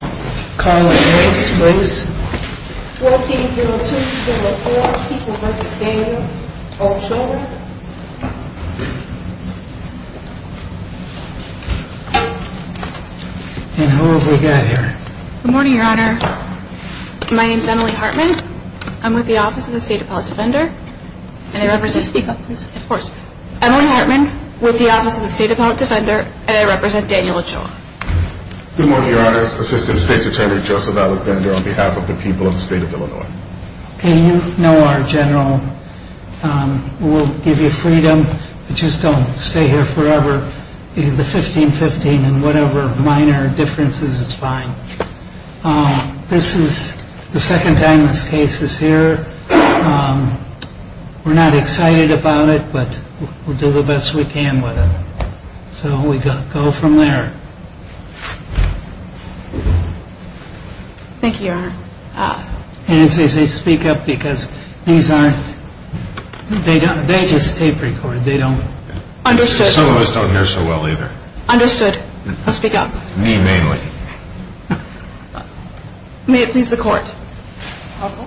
Good morning, your honor. My name is Emily Hartman. I'm with the Office of the State Appellate Defender. Can you speak up, please? Of course. Emily Hartman, with the Office of the State Appellate Defender, and I represent Daniel Ochoa. Good morning, your honor. Assistant State's Attorney, Joseph Alexander, on behalf of the people of the state of Illinois. Okay, you know our general. We'll give you freedom. Just don't stay here forever. The 15-15 and whatever minor differences, it's fine. This is the second time this case is here. We're not excited about it, but we'll do the best we can with it. So we go from there. Thank you, your honor. And as they speak up, because these aren't, they just tape recorded. They don't. Understood. Some of us don't hear so well either. Understood. I'll speak up. Me mainly. May it please the court. Counsel?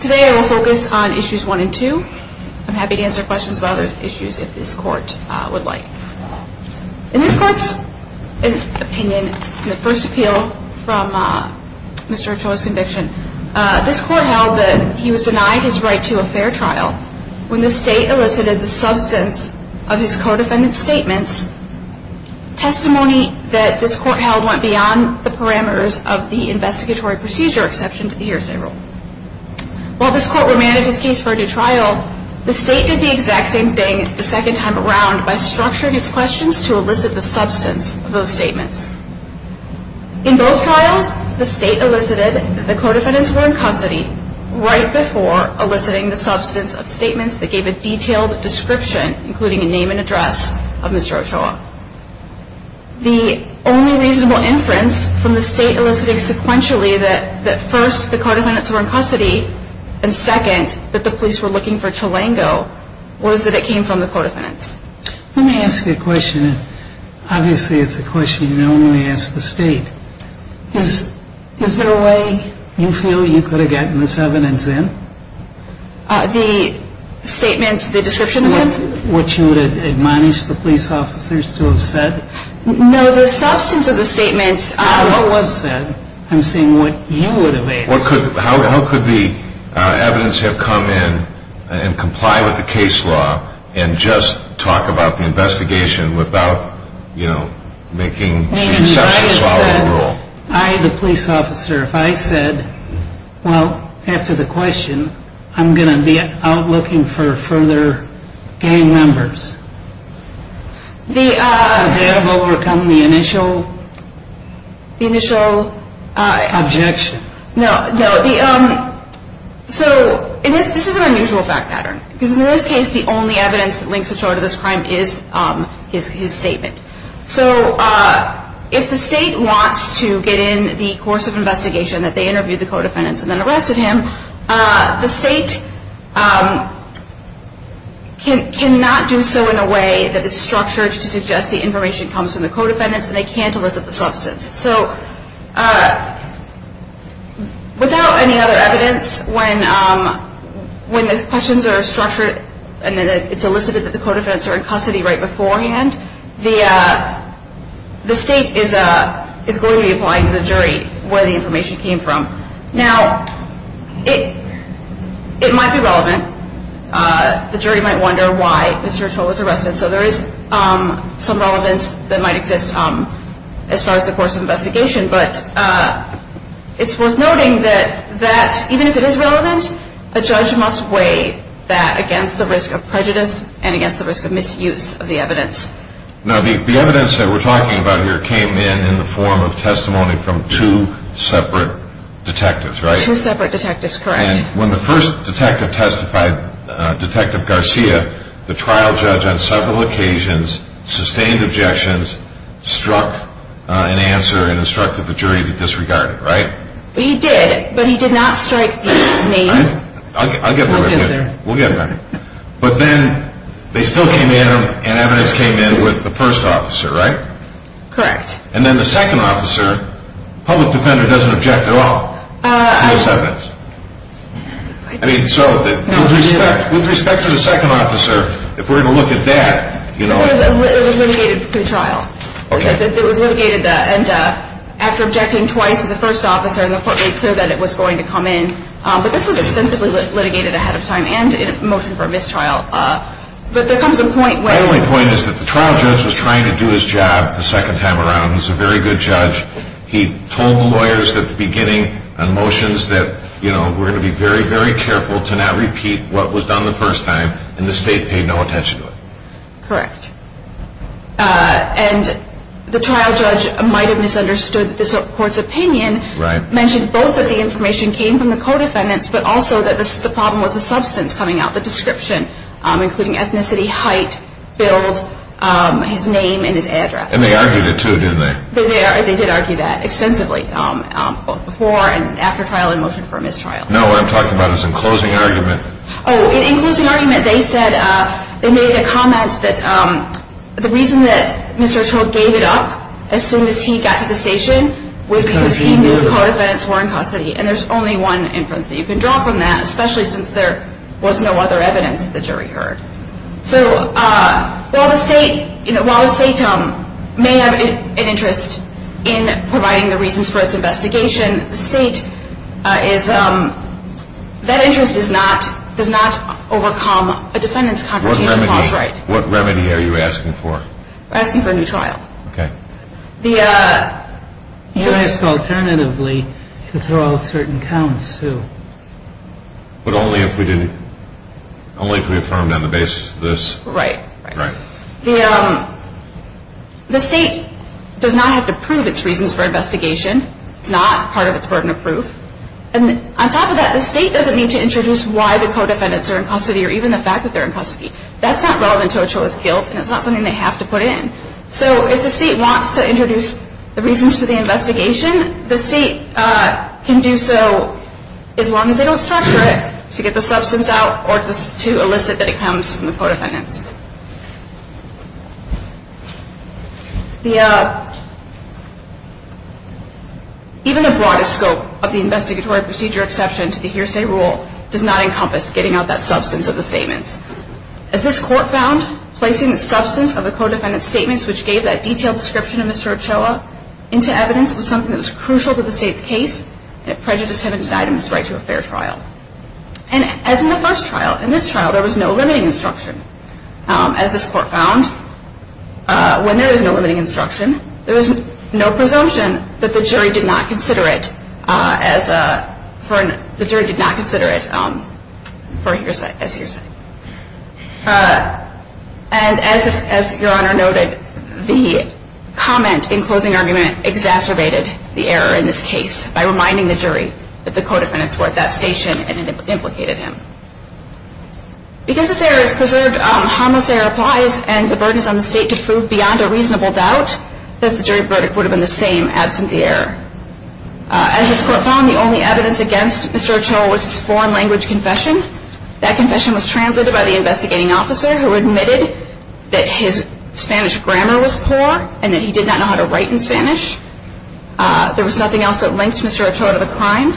Today I will focus on issues one and two. I'm happy to answer questions about other issues if this court would like. In this court's opinion, in the first appeal from Mr. Ochoa's conviction, this court held that he was denied his right to a fair trial when the state elicited the substance of his co-defendant's statements, testimony that this court held went beyond the parameters of the investigatory procedure exception to the hearsay rule. While this court remanded his case for a new trial, the state did the exact same thing the second time around by structuring his questions to elicit the substance of those statements. In both trials, the state elicited that the co-defendants were in custody right before eliciting the substance of statements that gave a detailed description, including a name and address, of Mr. Ochoa. The only reasonable inference from the state eliciting sequentially that first, the co-defendants were in custody, and second, that the police were looking for Tulango, was that it came from the co-defendants. Let me ask you a question. Obviously, it's a question you normally ask the state. Is there a way you feel you could have gotten this evidence in? The statements, the description of them? What you would have admonished the police officers to have said? No, the substance of the statements. What was said. I'm saying what you would have asked. How could the evidence have come in and comply with the case law and just talk about the investigation without, you know, making the exception of following the rule? I, the police officer, if I said, well, after the question, I'm going to be out looking for further gang members. They have overcome the initial objection. No, no. So, this is an unusual fact pattern. Because in this case, the only evidence that links Ochoa to this crime is his statement. So, if the state wants to get in the course of investigation that they interviewed the co-defendants and then arrested him, the state cannot do so in a way that is structured to suggest the information comes from the co-defendants and they can't elicit the substance. So, without any other evidence, when the questions are structured and it's elicited that the co-defendants are in custody right beforehand, the state is going to be applying to the jury where the information came from. Now, it might be relevant. The jury might wonder why Mr. Ochoa was arrested. So, there is some relevance that might exist as far as the course of investigation. But it's worth noting that even if it is relevant, a judge must weigh that against the risk of prejudice and against the risk of misuse of the evidence. Now, the evidence that we're talking about here came in in the form of testimony from two separate detectives, right? Two separate detectives, correct. And when the first detective testified, Detective Garcia, the trial judge on several occasions sustained objections, struck an answer and instructed the jury to disregard it, right? He did, but he did not strike the name. I'll get back to you. We'll get back. But then, they still came in and evidence came in with the first officer, right? Correct. And then the second officer, public defender, doesn't object at all to this evidence. I mean, so, with respect to the second officer, if we're going to look at that, you know... It was litigated through trial. Okay. It was litigated and after objecting twice to the first officer, the court made clear that it was going to come in. But this was extensively litigated ahead of time and in a motion for mistrial. But there comes a point where... The only point is that the trial judge was trying to do his job the second time around. He's a very good judge. He told the lawyers at the beginning on motions that, you know, we're going to be very, very careful to not repeat what was done the first time, and the state paid no attention to it. Correct. And the trial judge might have misunderstood the court's opinion. Right. Mentioned both that the information came from the co-defendants, but also that the problem was the substance coming out, the description, including ethnicity, height, bills, his name and his address. And they argued it too, didn't they? They did argue that extensively, both before and after trial in motion for mistrial. No, what I'm talking about is in closing argument. Oh, in closing argument, they said, they made a comment that the reason that Mr. Ochoa gave it up as soon as he got to the station was because he knew the co-defendants were in custody. And there's only one inference that you can draw from that, especially since there was no other evidence that the jury heard. So while the state may have an interest in providing the reasons for its investigation, the state is, that interest does not overcome a defendant's confrontation clause right. What remedy are you asking for? We're asking for a new trial. Okay. The, yes. We ask alternatively to throw out certain counts, too. But only if we did, only if we affirmed on the basis of this. Right. Right. The state does not have to prove its reasons for investigation. It's not part of its burden of proof. And on top of that, the state doesn't need to introduce why the co-defendants are in custody or even the fact that they're in custody. That's not relevant to Ochoa's guilt, and it's not something they have to put in. So if the state wants to introduce the reasons for the investigation, the state can do so as long as they don't structure it to get the substance out or to elicit that it comes from the co-defendants. The, even the broadest scope of the investigatory procedure exception to the hearsay rule does not encompass getting out that substance of the statements. As this court found, placing the substance of the co-defendant's statements, which gave that detailed description of Mr. Ochoa, into evidence was something that was crucial to the state's case, and it prejudiced him and denied him his right to a fair trial. And as in the first trial, in this trial, there was no limiting instruction. As this court found, when there is no limiting instruction, there is no presumption that the jury did not consider it as a, the jury did not consider it as hearsay. And as Your Honor noted, the comment in closing argument exacerbated the error in this case by reminding the jury that the co-defendants were at that station and it implicated him. Because this error is preserved, harmless error applies, and the burden is on the state to prove beyond a reasonable doubt that the jury verdict would have been the same absent the error. As this court found, the only evidence against Mr. Ochoa was his foreign language confession. That confession was translated by the investigating officer, who admitted that his Spanish grammar was poor, and that he did not know how to write in Spanish. There was nothing else that linked Mr. Ochoa to the crime.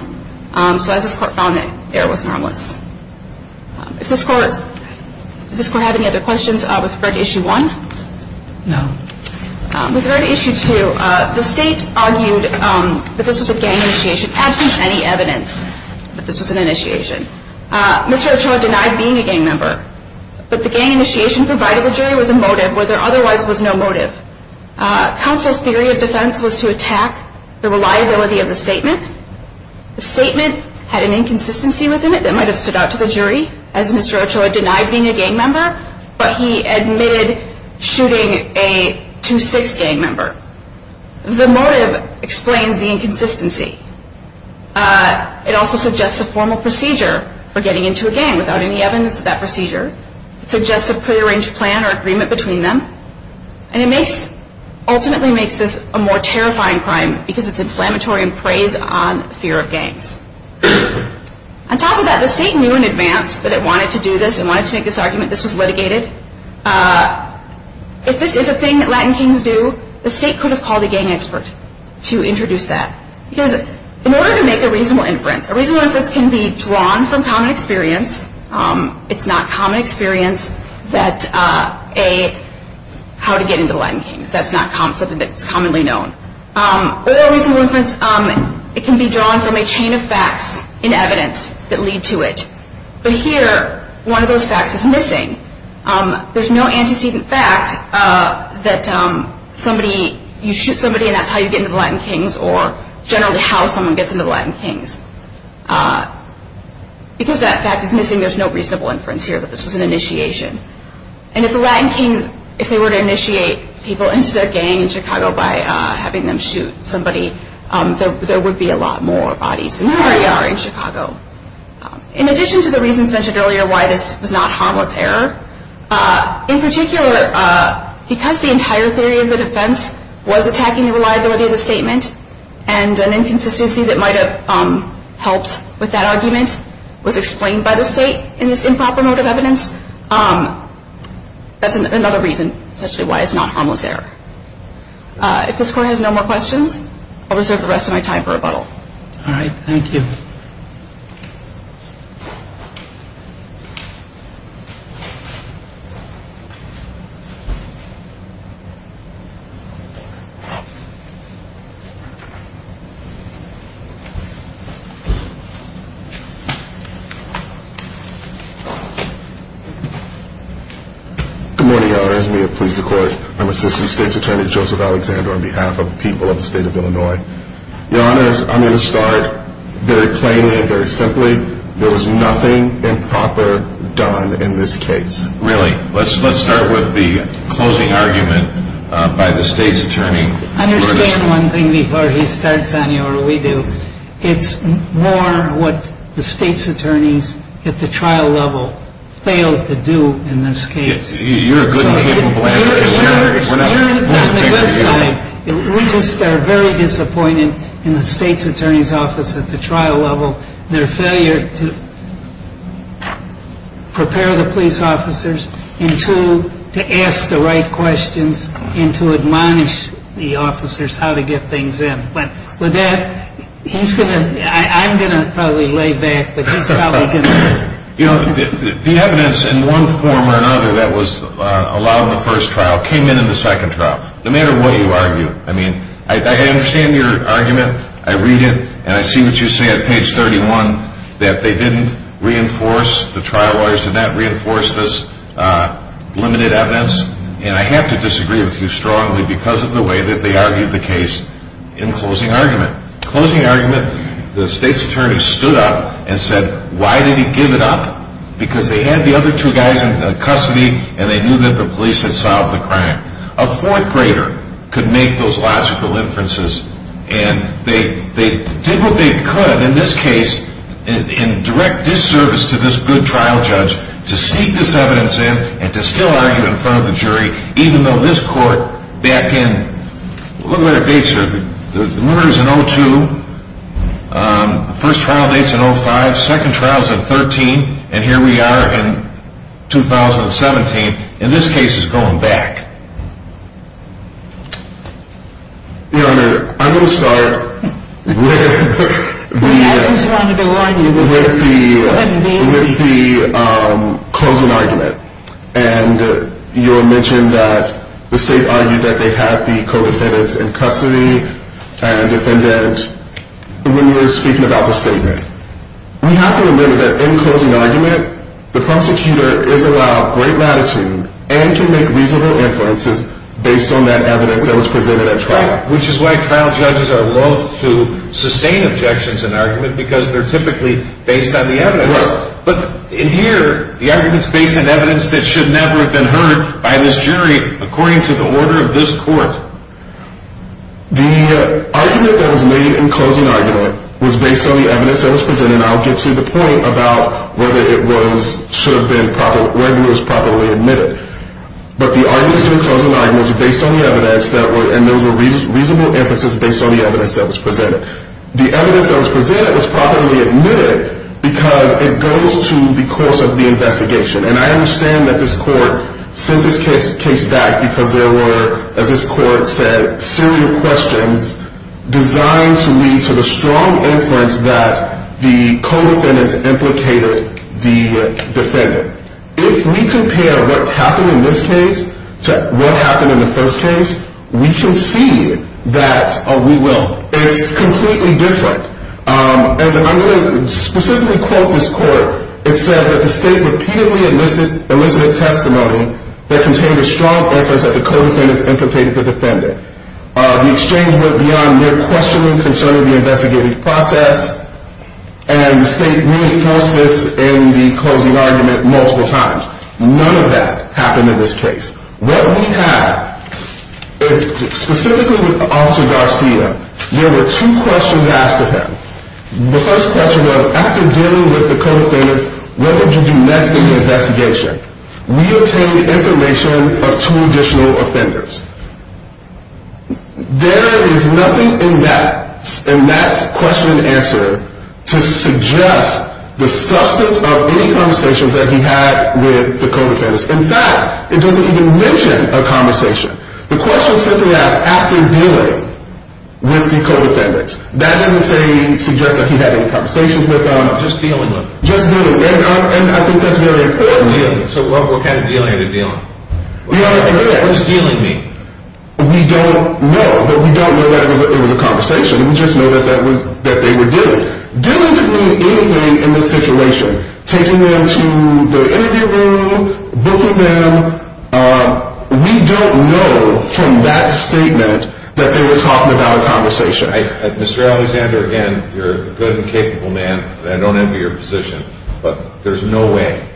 So as this court found, the error was harmless. Does this court have any other questions with regard to Issue 1? No. With regard to Issue 2, the state argued that this was a gang initiation, absent any evidence that this was an initiation. Mr. Ochoa denied being a gang member, but the gang initiation provided the jury with a motive where there otherwise was no motive. Counsel's theory of defense was to attack the reliability of the statement. The statement had an inconsistency within it that might have stood out to the jury, as Mr. Ochoa denied being a gang member, but he admitted shooting a 2-6 gang member. The motive explains the inconsistency. It also suggests a formal procedure for getting into a gang without any evidence of that procedure. It suggests a prearranged plan or agreement between them. And it ultimately makes this a more terrifying crime, because it's inflammatory and preys on fear of gangs. On top of that, the state knew in advance that it wanted to do this, it wanted to make this argument, this was litigated. If this is a thing that Latin kings do, the state could have called a gang expert to introduce that. Because in order to make a reasonable inference, a reasonable inference can be drawn from common experience. It's not common experience that a, how to get into Latin kings, that's not something that's commonly known. Or a reasonable inference, it can be drawn from a chain of facts and evidence that lead to it. But here, one of those facts is missing. There's no antecedent fact that somebody, you shoot somebody and that's how you get into the Latin kings, or generally how someone gets into the Latin kings. Because that fact is missing, there's no reasonable inference here that this was an initiation. And if the Latin kings, if they were to initiate people into their gang in Chicago by having them shoot somebody, there would be a lot more bodies than there already are in Chicago. In addition to the reasons mentioned earlier why this was not harmless error, in particular because the entire theory of the defense was attacking the reliability of the statement and an inconsistency that might have helped with that argument was explained by the state in this improper mode of evidence, that's another reason essentially why it's not harmless error. If this court has no more questions, I'll reserve the rest of my time for rebuttal. All right, thank you. Good morning, Your Honors. May it please the court. I'm Assistant State's Attorney Joseph Alexander on behalf of the people of the state of Illinois. Your Honors, I'm going to start very plainly and very simply. There was nothing improper done in this case. Really? Let's start with the closing argument by the State's Attorney. Understand one thing before he starts on you or we do. It's more what the State's Attorneys at the trial level failed to do in this case. You're a good and capable advocate. You're on the good side. We just are very disappointed in the State's Attorney's Office at the trial level, their failure to prepare the police officers and to ask the right questions and to admonish the officers how to get things in. With that, he's going to, I'm going to probably lay back, but he's probably going to. The evidence in one form or another that was allowed in the first trial came in in the second trial, no matter what you argue. I mean, I understand your argument. I read it, and I see what you say on page 31 that they didn't reinforce, the trial lawyers did not reinforce this limited evidence, and I have to disagree with you strongly because of the way that they argued the case in closing argument. Closing argument, the State's Attorney stood up and said, why did he give it up? Because they had the other two guys in custody, and they knew that the police had solved the crime. A fourth grader could make those logical inferences, and they did what they could in this case in direct disservice to this good trial judge to sneak this evidence in and to still argue in front of the jury, even though this court back in, look at the dates here. The murder is in 02, first trial date is in 05, second trial is in 13, and here we are in 2017, and this case is going back. Your Honor, I'm going to start with the closing argument, and you mentioned that the State argued that they had the co-defendants in custody, and when you were speaking about the statement, we have to remember that in closing argument, the prosecutor is allowed great latitude, and can make reasonable inferences based on that evidence that was presented at trial. Which is why trial judges are loath to sustain objections in argument, because they're typically based on the evidence. But in here, the argument is based on evidence that should never have been heard by this jury, according to the order of this court. The argument that was made in closing argument was based on the evidence that was presented, and I'll get to the point about whether it should have been, whether it was properly admitted. But the arguments in closing argument was based on the evidence, and those were reasonable inferences based on the evidence that was presented. The evidence that was presented was properly admitted, because it goes to the course of the investigation, and I understand that this court sent this case back because there were, as this court said, serious questions designed to lead to the strong inference that the co-defendants implicated the defendant. If we compare what happened in this case to what happened in the first case, we can see that we will. It's completely different. And I'm going to specifically quote this court. It says that the state repeatedly elicited testimony that contained a strong inference that the co-defendants implicated the defendant. The exchange went beyond mere questioning concerning the investigative process, and the state reinforced this in the closing argument multiple times. None of that happened in this case. What we have, specifically with Officer Garcia, there were two questions asked of him. The first question was, after dealing with the co-defendants, what would you do next in the investigation? We obtained information of two additional offenders. There is nothing in that question and answer to suggest the substance of any conversations that he had with the co-defendants. In fact, it doesn't even mention a conversation. The question simply asks, after dealing with the co-defendants. That doesn't suggest that he had any conversations with them. Just dealing with them. Just dealing. And I think that's very important. So what kind of dealing are we dealing? What does dealing mean? We don't know, but we don't know that it was a conversation. We just know that they were dealing. Dealing didn't mean anything in this situation. Taking them to the interview room, booking them. We don't know from that statement that they were talking about a conversation. Mr. Alexander, again, you're a good and capable man, and I don't envy your position, but there's no way.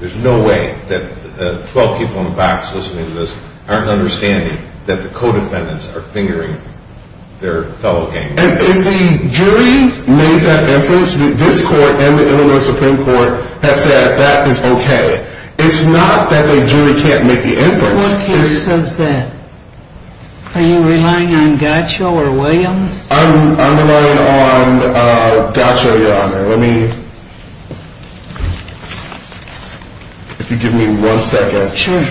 There's no way that the 12 people in the box listening to this aren't understanding that the co-defendants are fingering their fellow gang members. And if the jury made that inference, this court and the Illinois Supreme Court has said that is okay. It's not that the jury can't make the inference. What case says that? Are you relying on Gaccio or Williams? I'm relying on Gaccio, Your Honor. Let me, if you give me one second. Sure.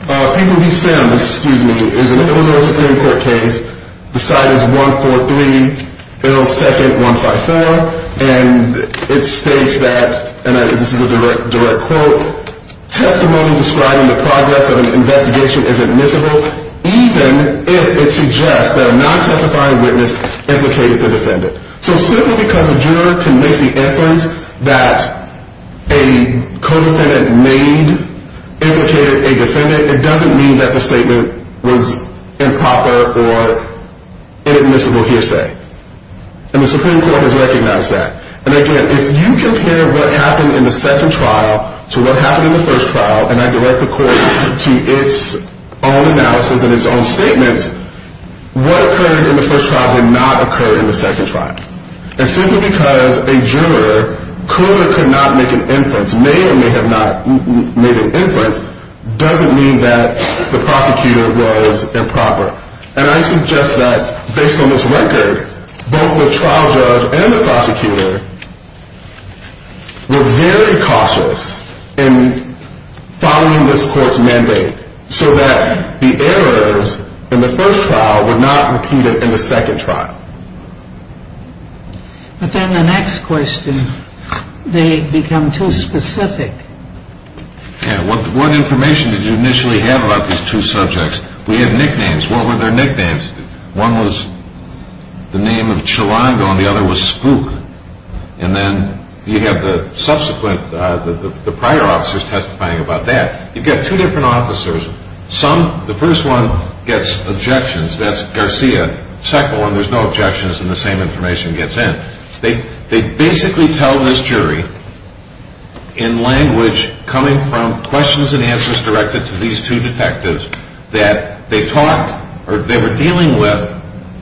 People v. Sims, excuse me, is an Illinois Supreme Court case. The side is 143-L-2-154, and it states that, and this is a direct quote, testimony describing the progress of an investigation is admissible, even if it suggests that a non-testifying witness is not guilty. So simply because a juror can make the inference that a co-defendant made implicated a defendant, it doesn't mean that the statement was improper or inadmissible hearsay. And the Supreme Court has recognized that. And again, if you compare what happened in the second trial to what happened in the first trial, and I direct the court to its own analysis and its own statements, what occurred in the first trial did not occur in the second trial. And simply because a juror could or could not make an inference, may or may have not made an inference, doesn't mean that the prosecutor was improper. And I suggest that, based on this record, both the trial judge and the prosecutor were very cautious in following this court's mandate so that the errors in the first trial were not repeated in the second trial. But then the next question, they become too specific. Yeah, what information did you initially have about these two subjects? We had nicknames. What were their nicknames? One was the name of Chilango and the other was Spook. And then you have the subsequent, the prior officers testifying about that. You've got two different officers. Some, the first one gets objections, that's Garcia. The second one, there's no objections and the same information gets in. They basically tell this jury in language coming from questions and answers directed to these two detectives that they talked or they were dealing with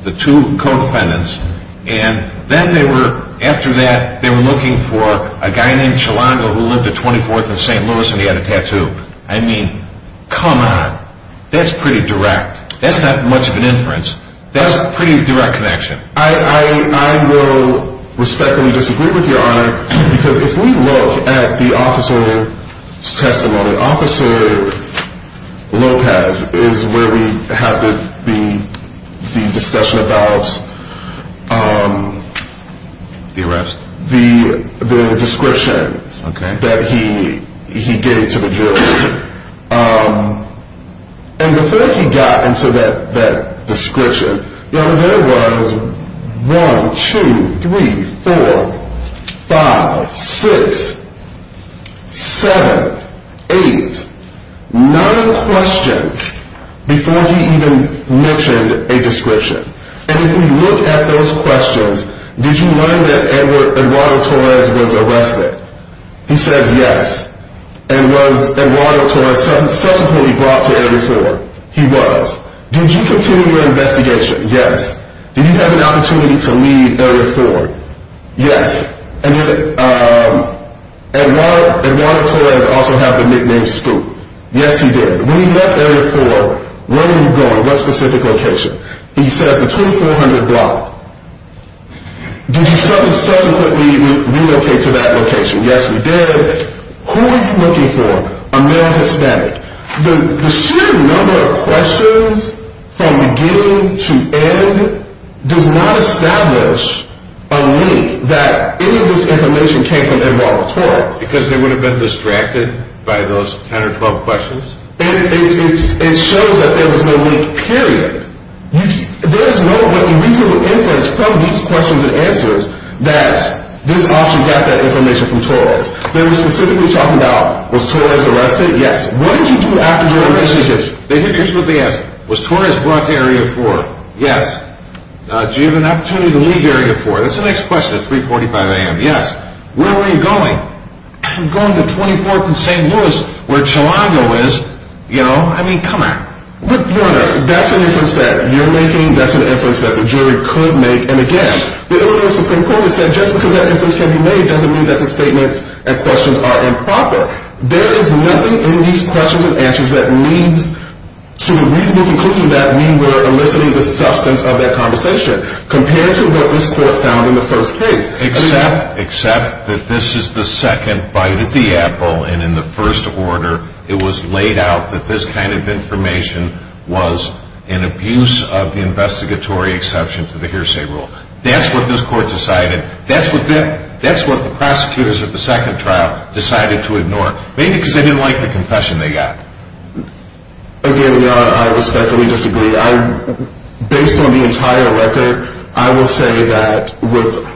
the two co-defendants and then they were, after that, they were looking for a guy named Chilango who lived at 24th and St. Louis and he had a tattoo. I mean, come on. That's pretty direct. That's not much of an inference. That's a pretty direct connection. I will respectfully disagree with Your Honor because if we look at the officer's testimony, Officer Lopez is where we have the discussion about the description that he gave to the jury. And before he got into that description, there was 1, 2, 3, 4, 5, 6, 7, 8, 9 questions before he even mentioned a description. And if we look at those questions, did you learn that Eduardo Torres was arrested? He says yes. And was Eduardo Torres subsequently brought to Area 4? He was. Did you continue your investigation? Yes. Did you have an opportunity to leave Area 4? Yes. And did Eduardo Torres also have the nickname Spook? Yes, he did. When he left Area 4, where were you going? What specific location? He says the 2400 block. Did you subsequently relocate to that location? Yes, we did. Who were you looking for? A male Hispanic. The sheer number of questions from beginning to end does not establish a link that any of this information came from Eduardo Torres. Because they would have been distracted by those 10 or 12 questions? It shows that there was no link, period. There is no reasonable inference from these questions and answers that this officer got that information from Torres. They were specifically talking about, was Torres arrested? Yes. What did you do after your arrest? Here's what they asked. Was Torres brought to Area 4? Yes. Did you have an opportunity to leave Area 4? That's the next question at 3.45 a.m. Yes. Where were you going? I'm going to 24th and St. Louis, where Chilango is. You know, I mean, come on. But, Your Honor, that's an inference that you're making. That's an inference that the jury could make. And, again, the Illinois Supreme Court has said just because that inference can be made doesn't mean that the statements and questions are improper. There is nothing in these questions and answers that leads to a reasonable conclusion that we were eliciting the substance of that conversation compared to what this court found in the first case. Except that this is the second bite of the apple, and in the first order it was laid out that this kind of information was an abuse of the investigatory exception to the hearsay rule. That's what this court decided. That's what the prosecutors of the second trial decided to ignore. Maybe because they didn't like the confession they got. Again, Your Honor, I respectfully disagree. Based on the entire record, I will say that with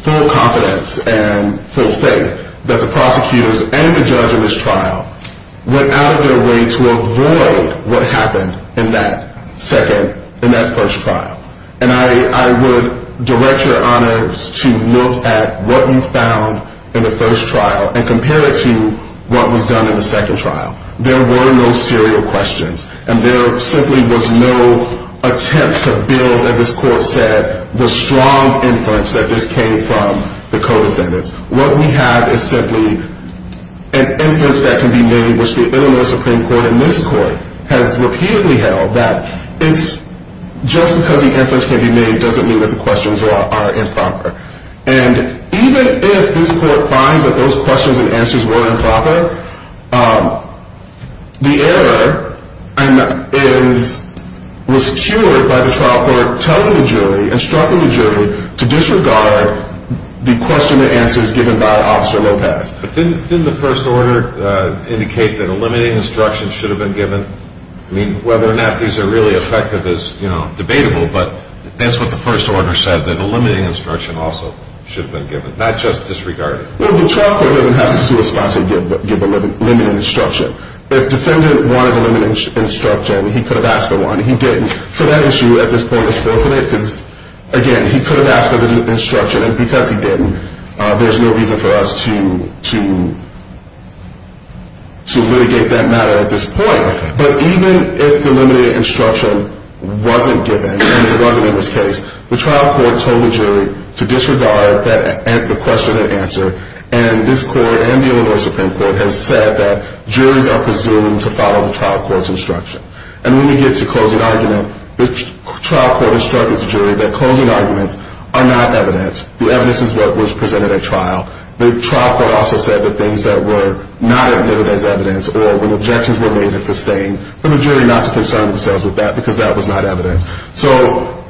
full confidence and full faith that the prosecutors and the judge in this trial went out of their way to avoid what happened in that first trial. And I would direct Your Honor to look at what you found in the first trial and compare it to what was done in the second trial. There were no serial questions, and there simply was no attempt to build, as this court said, the strong inference that this came from the co-defendants. What we have is simply an inference that can be made, which the Illinois Supreme Court in this court has repeatedly held that it's just because the inference can be made doesn't mean that the questions are improper. And even if this court finds that those questions and answers were improper, the error was cured by the trial court telling the jury, instructing the jury, to disregard the question and answers given by Officer Lopez. But didn't the first order indicate that a limiting instruction should have been given? I mean, whether or not these are really effective is, you know, debatable, but that's what the first order said, that a limiting instruction also should have been given, not just disregarded. Well, the trial court doesn't have to sue a sponsor and give a limiting instruction. If the defendant wanted a limiting instruction, he could have asked for one. He didn't. So that issue, at this point, is forfeited because, again, he could have asked for the limiting instruction, and because he didn't, there's no reason for us to litigate that matter at this point. But even if the limiting instruction wasn't given, and it wasn't in this case, the trial court told the jury to disregard the question and answer, and this court and the Illinois Supreme Court has said that juries are presumed to follow the trial court's instruction. And when we get to closing argument, the trial court instructed the jury that closing arguments are not evidence. The evidence is what was presented at trial. The trial court also said that things that were not admitted as evidence, or when objections were made and sustained, for the jury not to concern themselves with that because that was not evidence. So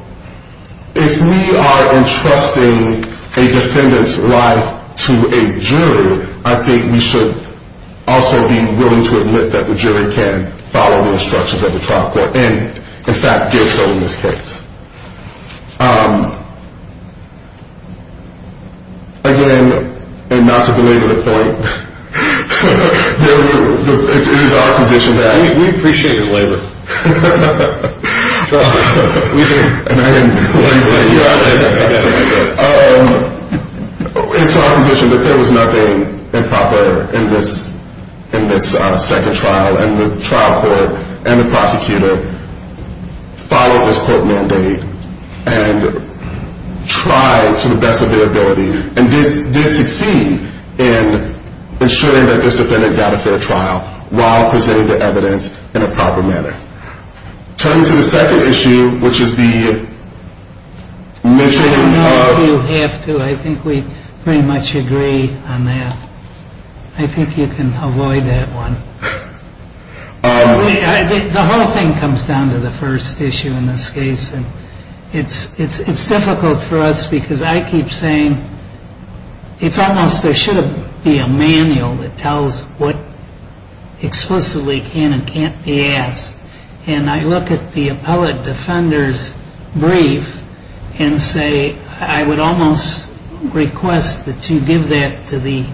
if we are entrusting a defendant's life to a jury, I think we should also be willing to admit that the jury can follow the instructions of the trial court, and, in fact, did so in this case. Again, and not to belabor the point, it is our position that there was nothing improper in this second trial, and the trial court and the prosecutor followed this court mandate. And tried to the best of their ability, and did succeed in ensuring that this defendant got a fair trial while presenting the evidence in a proper manner. Turning to the second issue, which is the... I don't know if you have to. I think we pretty much agree on that. I think you can avoid that one. The whole thing comes down to the first issue in this case. And it's difficult for us because I keep saying it's almost there should be a manual that tells what explicitly can and can't be asked. And I look at the appellate defender's brief and say I would almost request that you give that to the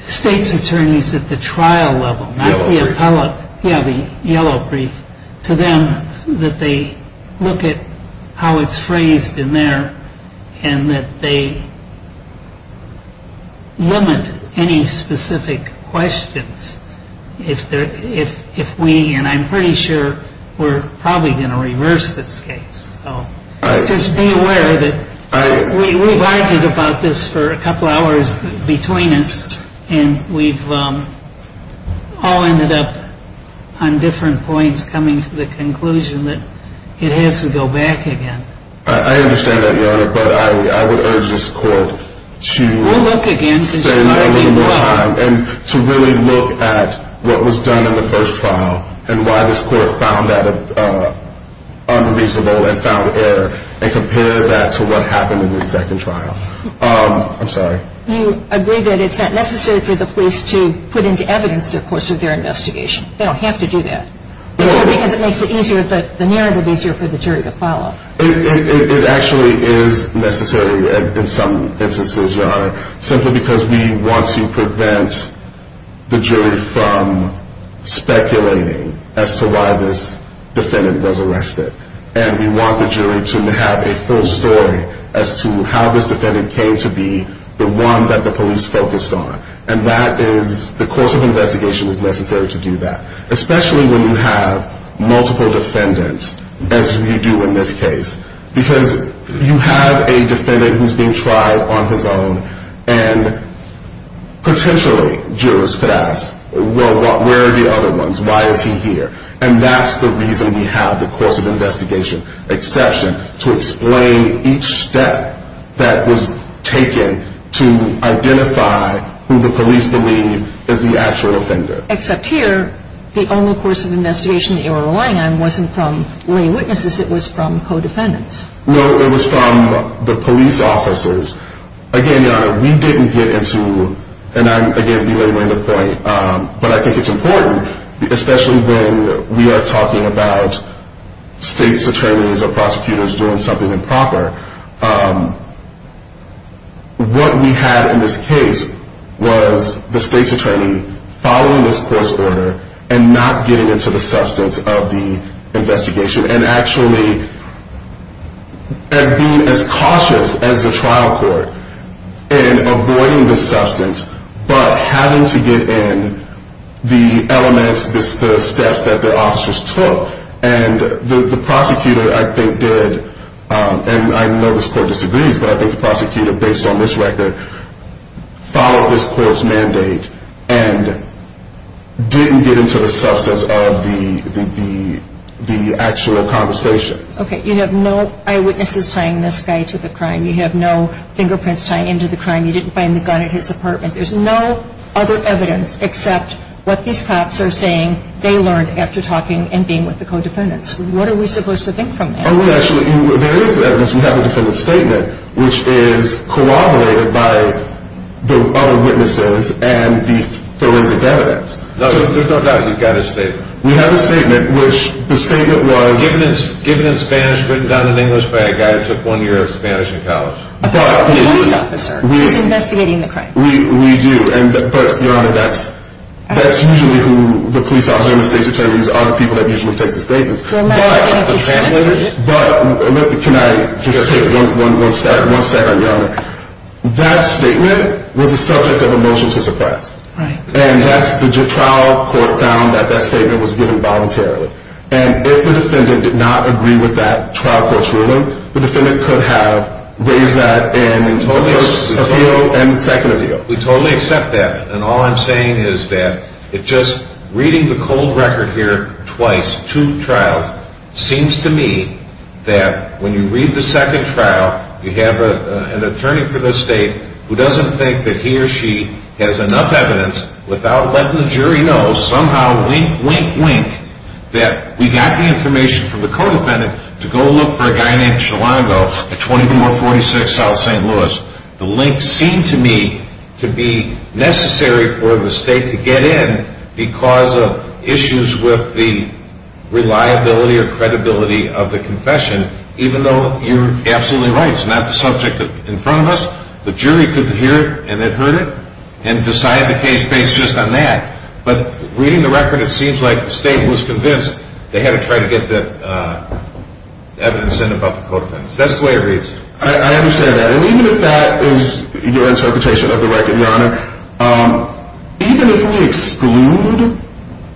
state's attorneys at the trial level, not the appellate. Yeah, the yellow brief. And to them, that they look at how it's phrased in there, and that they limit any specific questions. If we, and I'm pretty sure we're probably going to reverse this case. Just be aware that we've argued about this for a couple hours between us. And we've all ended up on different points coming to the conclusion that it has to go back again. I understand that, Your Honor. But I would urge this court to spend a little more time and to really look at what was done in the first trial. And why this court found that unreasonable and found error. And compare that to what happened in the second trial. I'm sorry. You agree that it's not necessary for the police to put into evidence the course of their investigation. They don't have to do that. Because it makes it easier, the narrative easier for the jury to follow. It actually is necessary in some instances, Your Honor. Simply because we want to prevent the jury from speculating as to why this defendant was arrested. And we want the jury to have a full story as to how this defendant came to be the one that the police focused on. And that is, the course of investigation is necessary to do that. Especially when you have multiple defendants as you do in this case. Because you have a defendant who's being tried on his own. And potentially jurors could ask, well, where are the other ones? Why is he here? And that's the reason we have the course of investigation exception. To explain each step that was taken to identify who the police believe is the actual offender. Except here, the only course of investigation they were relying on wasn't from lay witnesses. It was from co-defendants. No, it was from the police officers. Again, Your Honor, we didn't get into, and I'm again belaboring the point. But I think it's important, especially when we are talking about state's attorneys or prosecutors doing something improper. What we had in this case was the state's attorney following this court's order and not getting into the substance of the investigation. And actually, as being as cautious as the trial court in avoiding the substance. But having to get in the elements, the steps that the officers took. And the prosecutor, I think, did. And I know this court disagrees, but I think the prosecutor, based on this record, followed this court's mandate. And didn't get into the substance of the actual conversation. Okay, you have no eyewitnesses tying this guy to the crime. You have no fingerprints tying into the crime. You didn't find the gun at his apartment. There's no other evidence except what these cops are saying they learned after talking and being with the co-defendants. What are we supposed to think from that? Actually, there is evidence. We have a defendant's statement, which is corroborated by the other witnesses and the forensic evidence. So there's no doubt you've got a statement. We have a statement, which the statement was given in Spanish, written down in English by a guy who took one year of Spanish in college. The police officer who's investigating the crime. We do. But, Your Honor, that's usually who the police officer and the state's attorneys are the people that usually take the statements. Well, I don't think you translated it. Can I just take one second, Your Honor? That statement was the subject of a motion to suppress. Right. And the trial court found that that statement was given voluntarily. And if the defendant did not agree with that trial court's ruling, the defendant could have raised that in the first appeal and the second appeal. We totally accept that. And all I'm saying is that just reading the cold record here twice, two trials, seems to me that when you read the second trial, you have an attorney for the state who doesn't think that he or she has enough evidence without letting the jury know, somehow, wink, wink, wink, that we got the information from the co-defendant to go look for a guy named Chalongo at 2446 South St. Louis. The link seemed to me to be necessary for the state to get in because of issues with the reliability or credibility of the confession, even though you're absolutely right. It's not the subject in front of us. The jury could hear it, and they've heard it, and decide the case based just on that. But reading the record, it seems like the state was convinced they had to try to get the evidence in about the co-defendants. That's the way it reads. I understand that. And even if that is your interpretation of the record, Your Honor, even if we exclude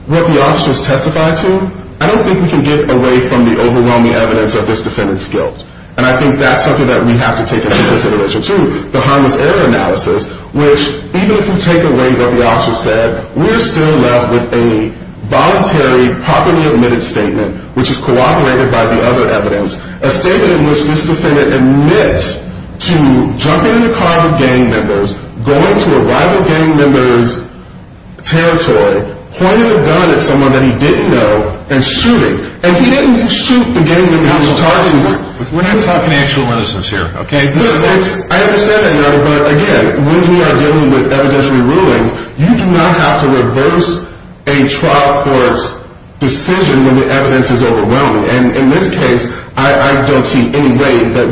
what the officers testified to, I don't think we can get away from the overwhelming evidence of this defendant's guilt. And I think that's something that we have to take into consideration, too. Which, even if we take away what the officer said, we're still left with a voluntary, properly admitted statement, which is corroborated by the other evidence, a statement in which this defendant admits to jumping in the car with gang members, going to a rival gang member's territory, pointing a gun at someone that he didn't know, and shooting. And he didn't shoot the gang member. We're not talking actual innocence here, okay? I understand that, Your Honor, but again, when we are dealing with evidentiary rulings, you do not have to reverse a trial court's decision when the evidence is overwhelming. And in this case, I don't see any way that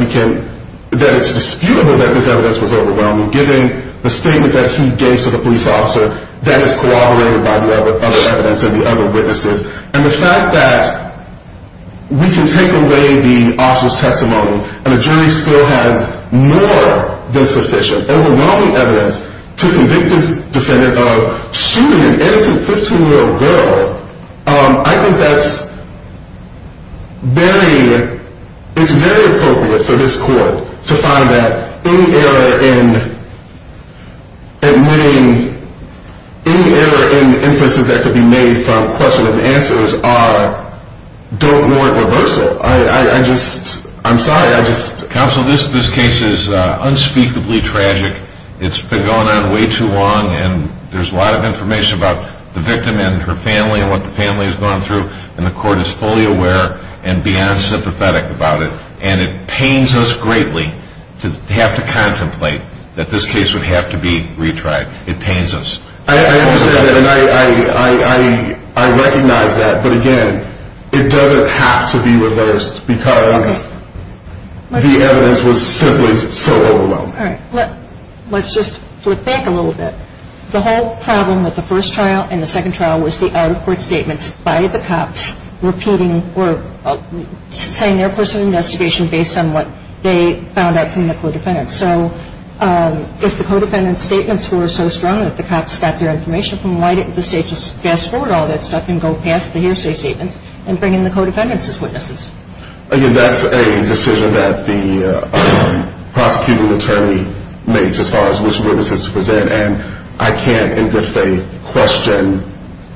it's disputable that this evidence was overwhelming, given the statement that he gave to the police officer that is corroborated by the other evidence and the other witnesses. And the fact that we can take away the officer's testimony and the jury still has more than sufficient overwhelming evidence to convict this defendant of shooting an innocent 15-year-old girl, I think that's very, it's very appropriate for this court to find that any error in admitting, any error in inferences that could be made from question and answers are, don't warrant reversal. I just, I'm sorry, I just. Counsel, this case is unspeakably tragic. It's been going on way too long, and there's a lot of information about the victim and her family and what the family has gone through, and the court is fully aware and beyond sympathetic about it. And it pains us greatly to have to contemplate that this case would have to be retried. It pains us. I understand that, and I recognize that. But again, it doesn't have to be reversed because the evidence was simply so overwhelming. All right. Let's just flip back a little bit. The whole problem with the first trial and the second trial was the out-of-court statements by the cops repeating or saying their course of investigation based on what they found out from the co-defendants. So if the co-defendants' statements were so strong that the cops got their information from, why didn't the state just fast-forward all that stuff and go past the hearsay statements and bring in the co-defendants' witnesses? That's a decision that the prosecuting attorney makes as far as which witnesses to present, and I can't in good faith question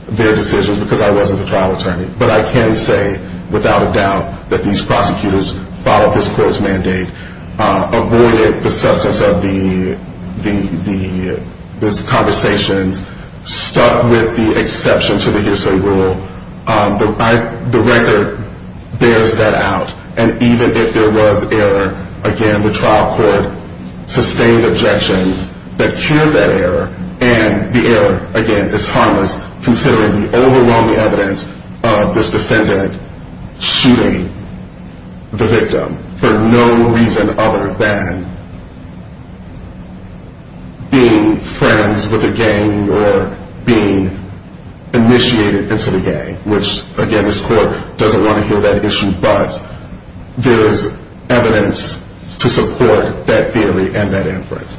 their decisions because I wasn't the trial attorney. But I can say without a doubt that these prosecutors followed this court's mandate, avoided the substance of the conversations, stuck with the exception to the hearsay rule. The record bears that out. And even if there was error, again, the trial court sustained objections that cured that error, and the error, again, is harmless considering the overwhelming evidence of this defendant shooting the victim for no reason other than being friends with the gang or being initiated into the gang, which, again, this court doesn't want to hear that issue, but there is evidence to support that theory and that inference.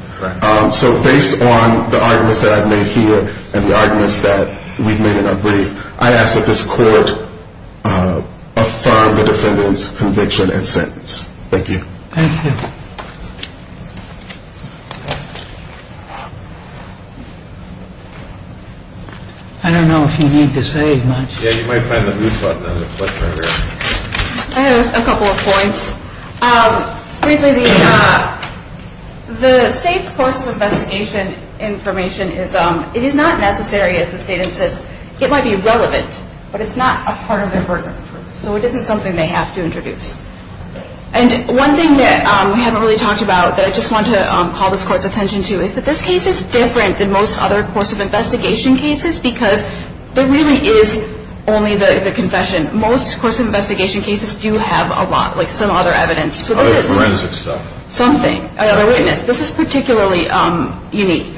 So based on the arguments that I've made here and the arguments that we've made in our brief, I ask that this court affirm the defendant's conviction and sentence. Thank you. Thank you. I don't know if you need to say much. Yeah, you might find the mute button on the clicker. I have a couple of points. Firstly, the state's course of investigation information is not necessary, as the state insists. It might be relevant, but it's not a part of their burden. So it isn't something they have to introduce. And one thing that we haven't really talked about that I just want to call this court's attention to is that this case is different than most other course of investigation cases because there really is only the confession. Most course of investigation cases do have a lot, like some other evidence. Other forensic stuff. Something. Another witness. This is particularly unique.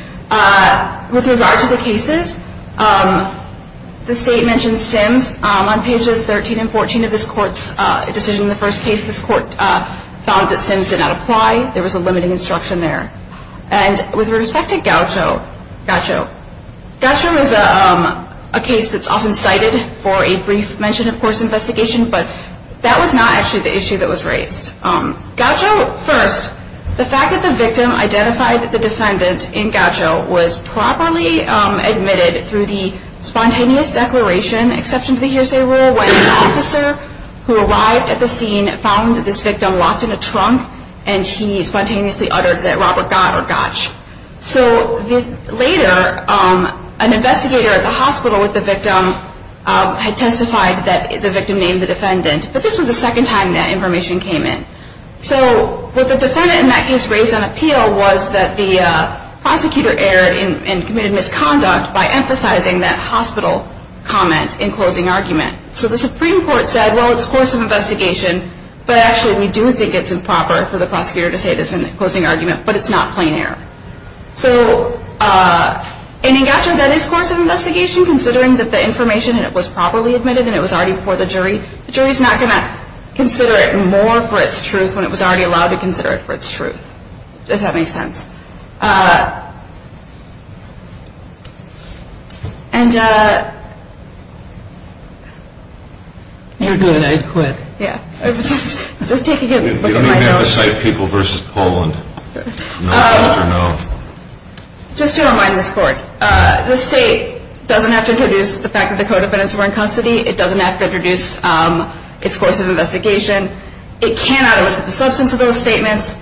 With regard to the cases, the state mentions Sims. On pages 13 and 14 of this court's decision in the first case, this court found that Sims did not apply. There was a limiting instruction there. And with respect to Gaucho, Gaucho is a case that's often cited for a brief mention of course of investigation, Gaucho, first, the fact that the victim identified the defendant in Gaucho was properly admitted through the spontaneous declaration, exception to the hearsay rule, when an officer who arrived at the scene found this victim locked in a trunk and he spontaneously uttered that Robert Gott or Gotch. So later, an investigator at the hospital with the victim had testified that the victim named the defendant. But this was the second time that information came in. So what the defendant in that case raised on appeal was that the prosecutor erred and committed misconduct by emphasizing that hospital comment in closing argument. So the Supreme Court said, well, it's course of investigation, but actually we do think it's improper for the prosecutor to say this in closing argument, but it's not plain error. So in Gaucho, that is course of investigation, considering that the information, and it was properly admitted and it was already before the jury, the jury is not going to consider it more for its truth when it was already allowed to consider it for its truth, if that makes sense. And... You're good, I quit. Just take a good look at my notes. You don't have to cite people versus Poland. Just to remind this Court, this State doesn't have to introduce the fact that the co-defendants were in custody. It doesn't have to introduce its course of investigation. It cannot elicit the substance of those statements,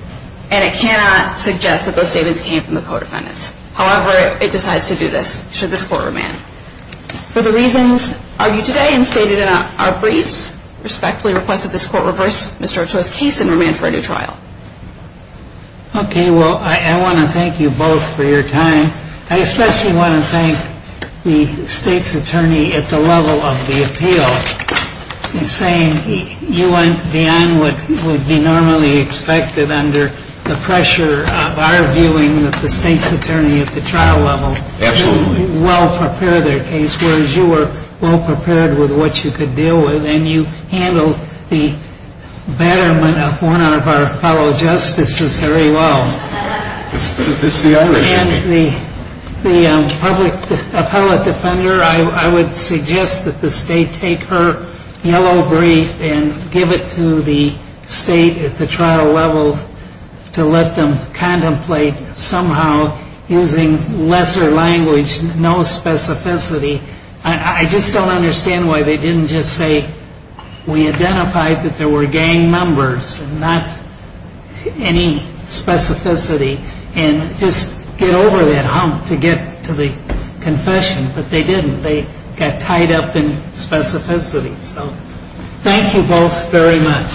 and it cannot suggest that those statements came from the co-defendants. However, it decides to do this, should this Court remand. For the reasons argued today and stated in our briefs, respectfully request that this Court reverse Mr. Gaucho's case and remand for a new trial. Okay, well, I want to thank you both for your time. I especially want to thank the State's attorney at the level of the appeal in saying you went beyond what would be normally expected under the pressure of our viewing of the State's attorney at the trial level. Absolutely. You well prepared their case, whereas you were well prepared with what you could deal with, and you handled the betterment of one of our fellow justices very well. And the public appellate defender, I would suggest that the State take her yellow brief and give it to the State at the trial level to let them contemplate somehow using lesser language, no specificity. I just don't understand why they didn't just say we identified that there were gang members and not any specificity and just get over that hump to get to the confession. But they didn't. They got tied up in specificity. So thank you both very much.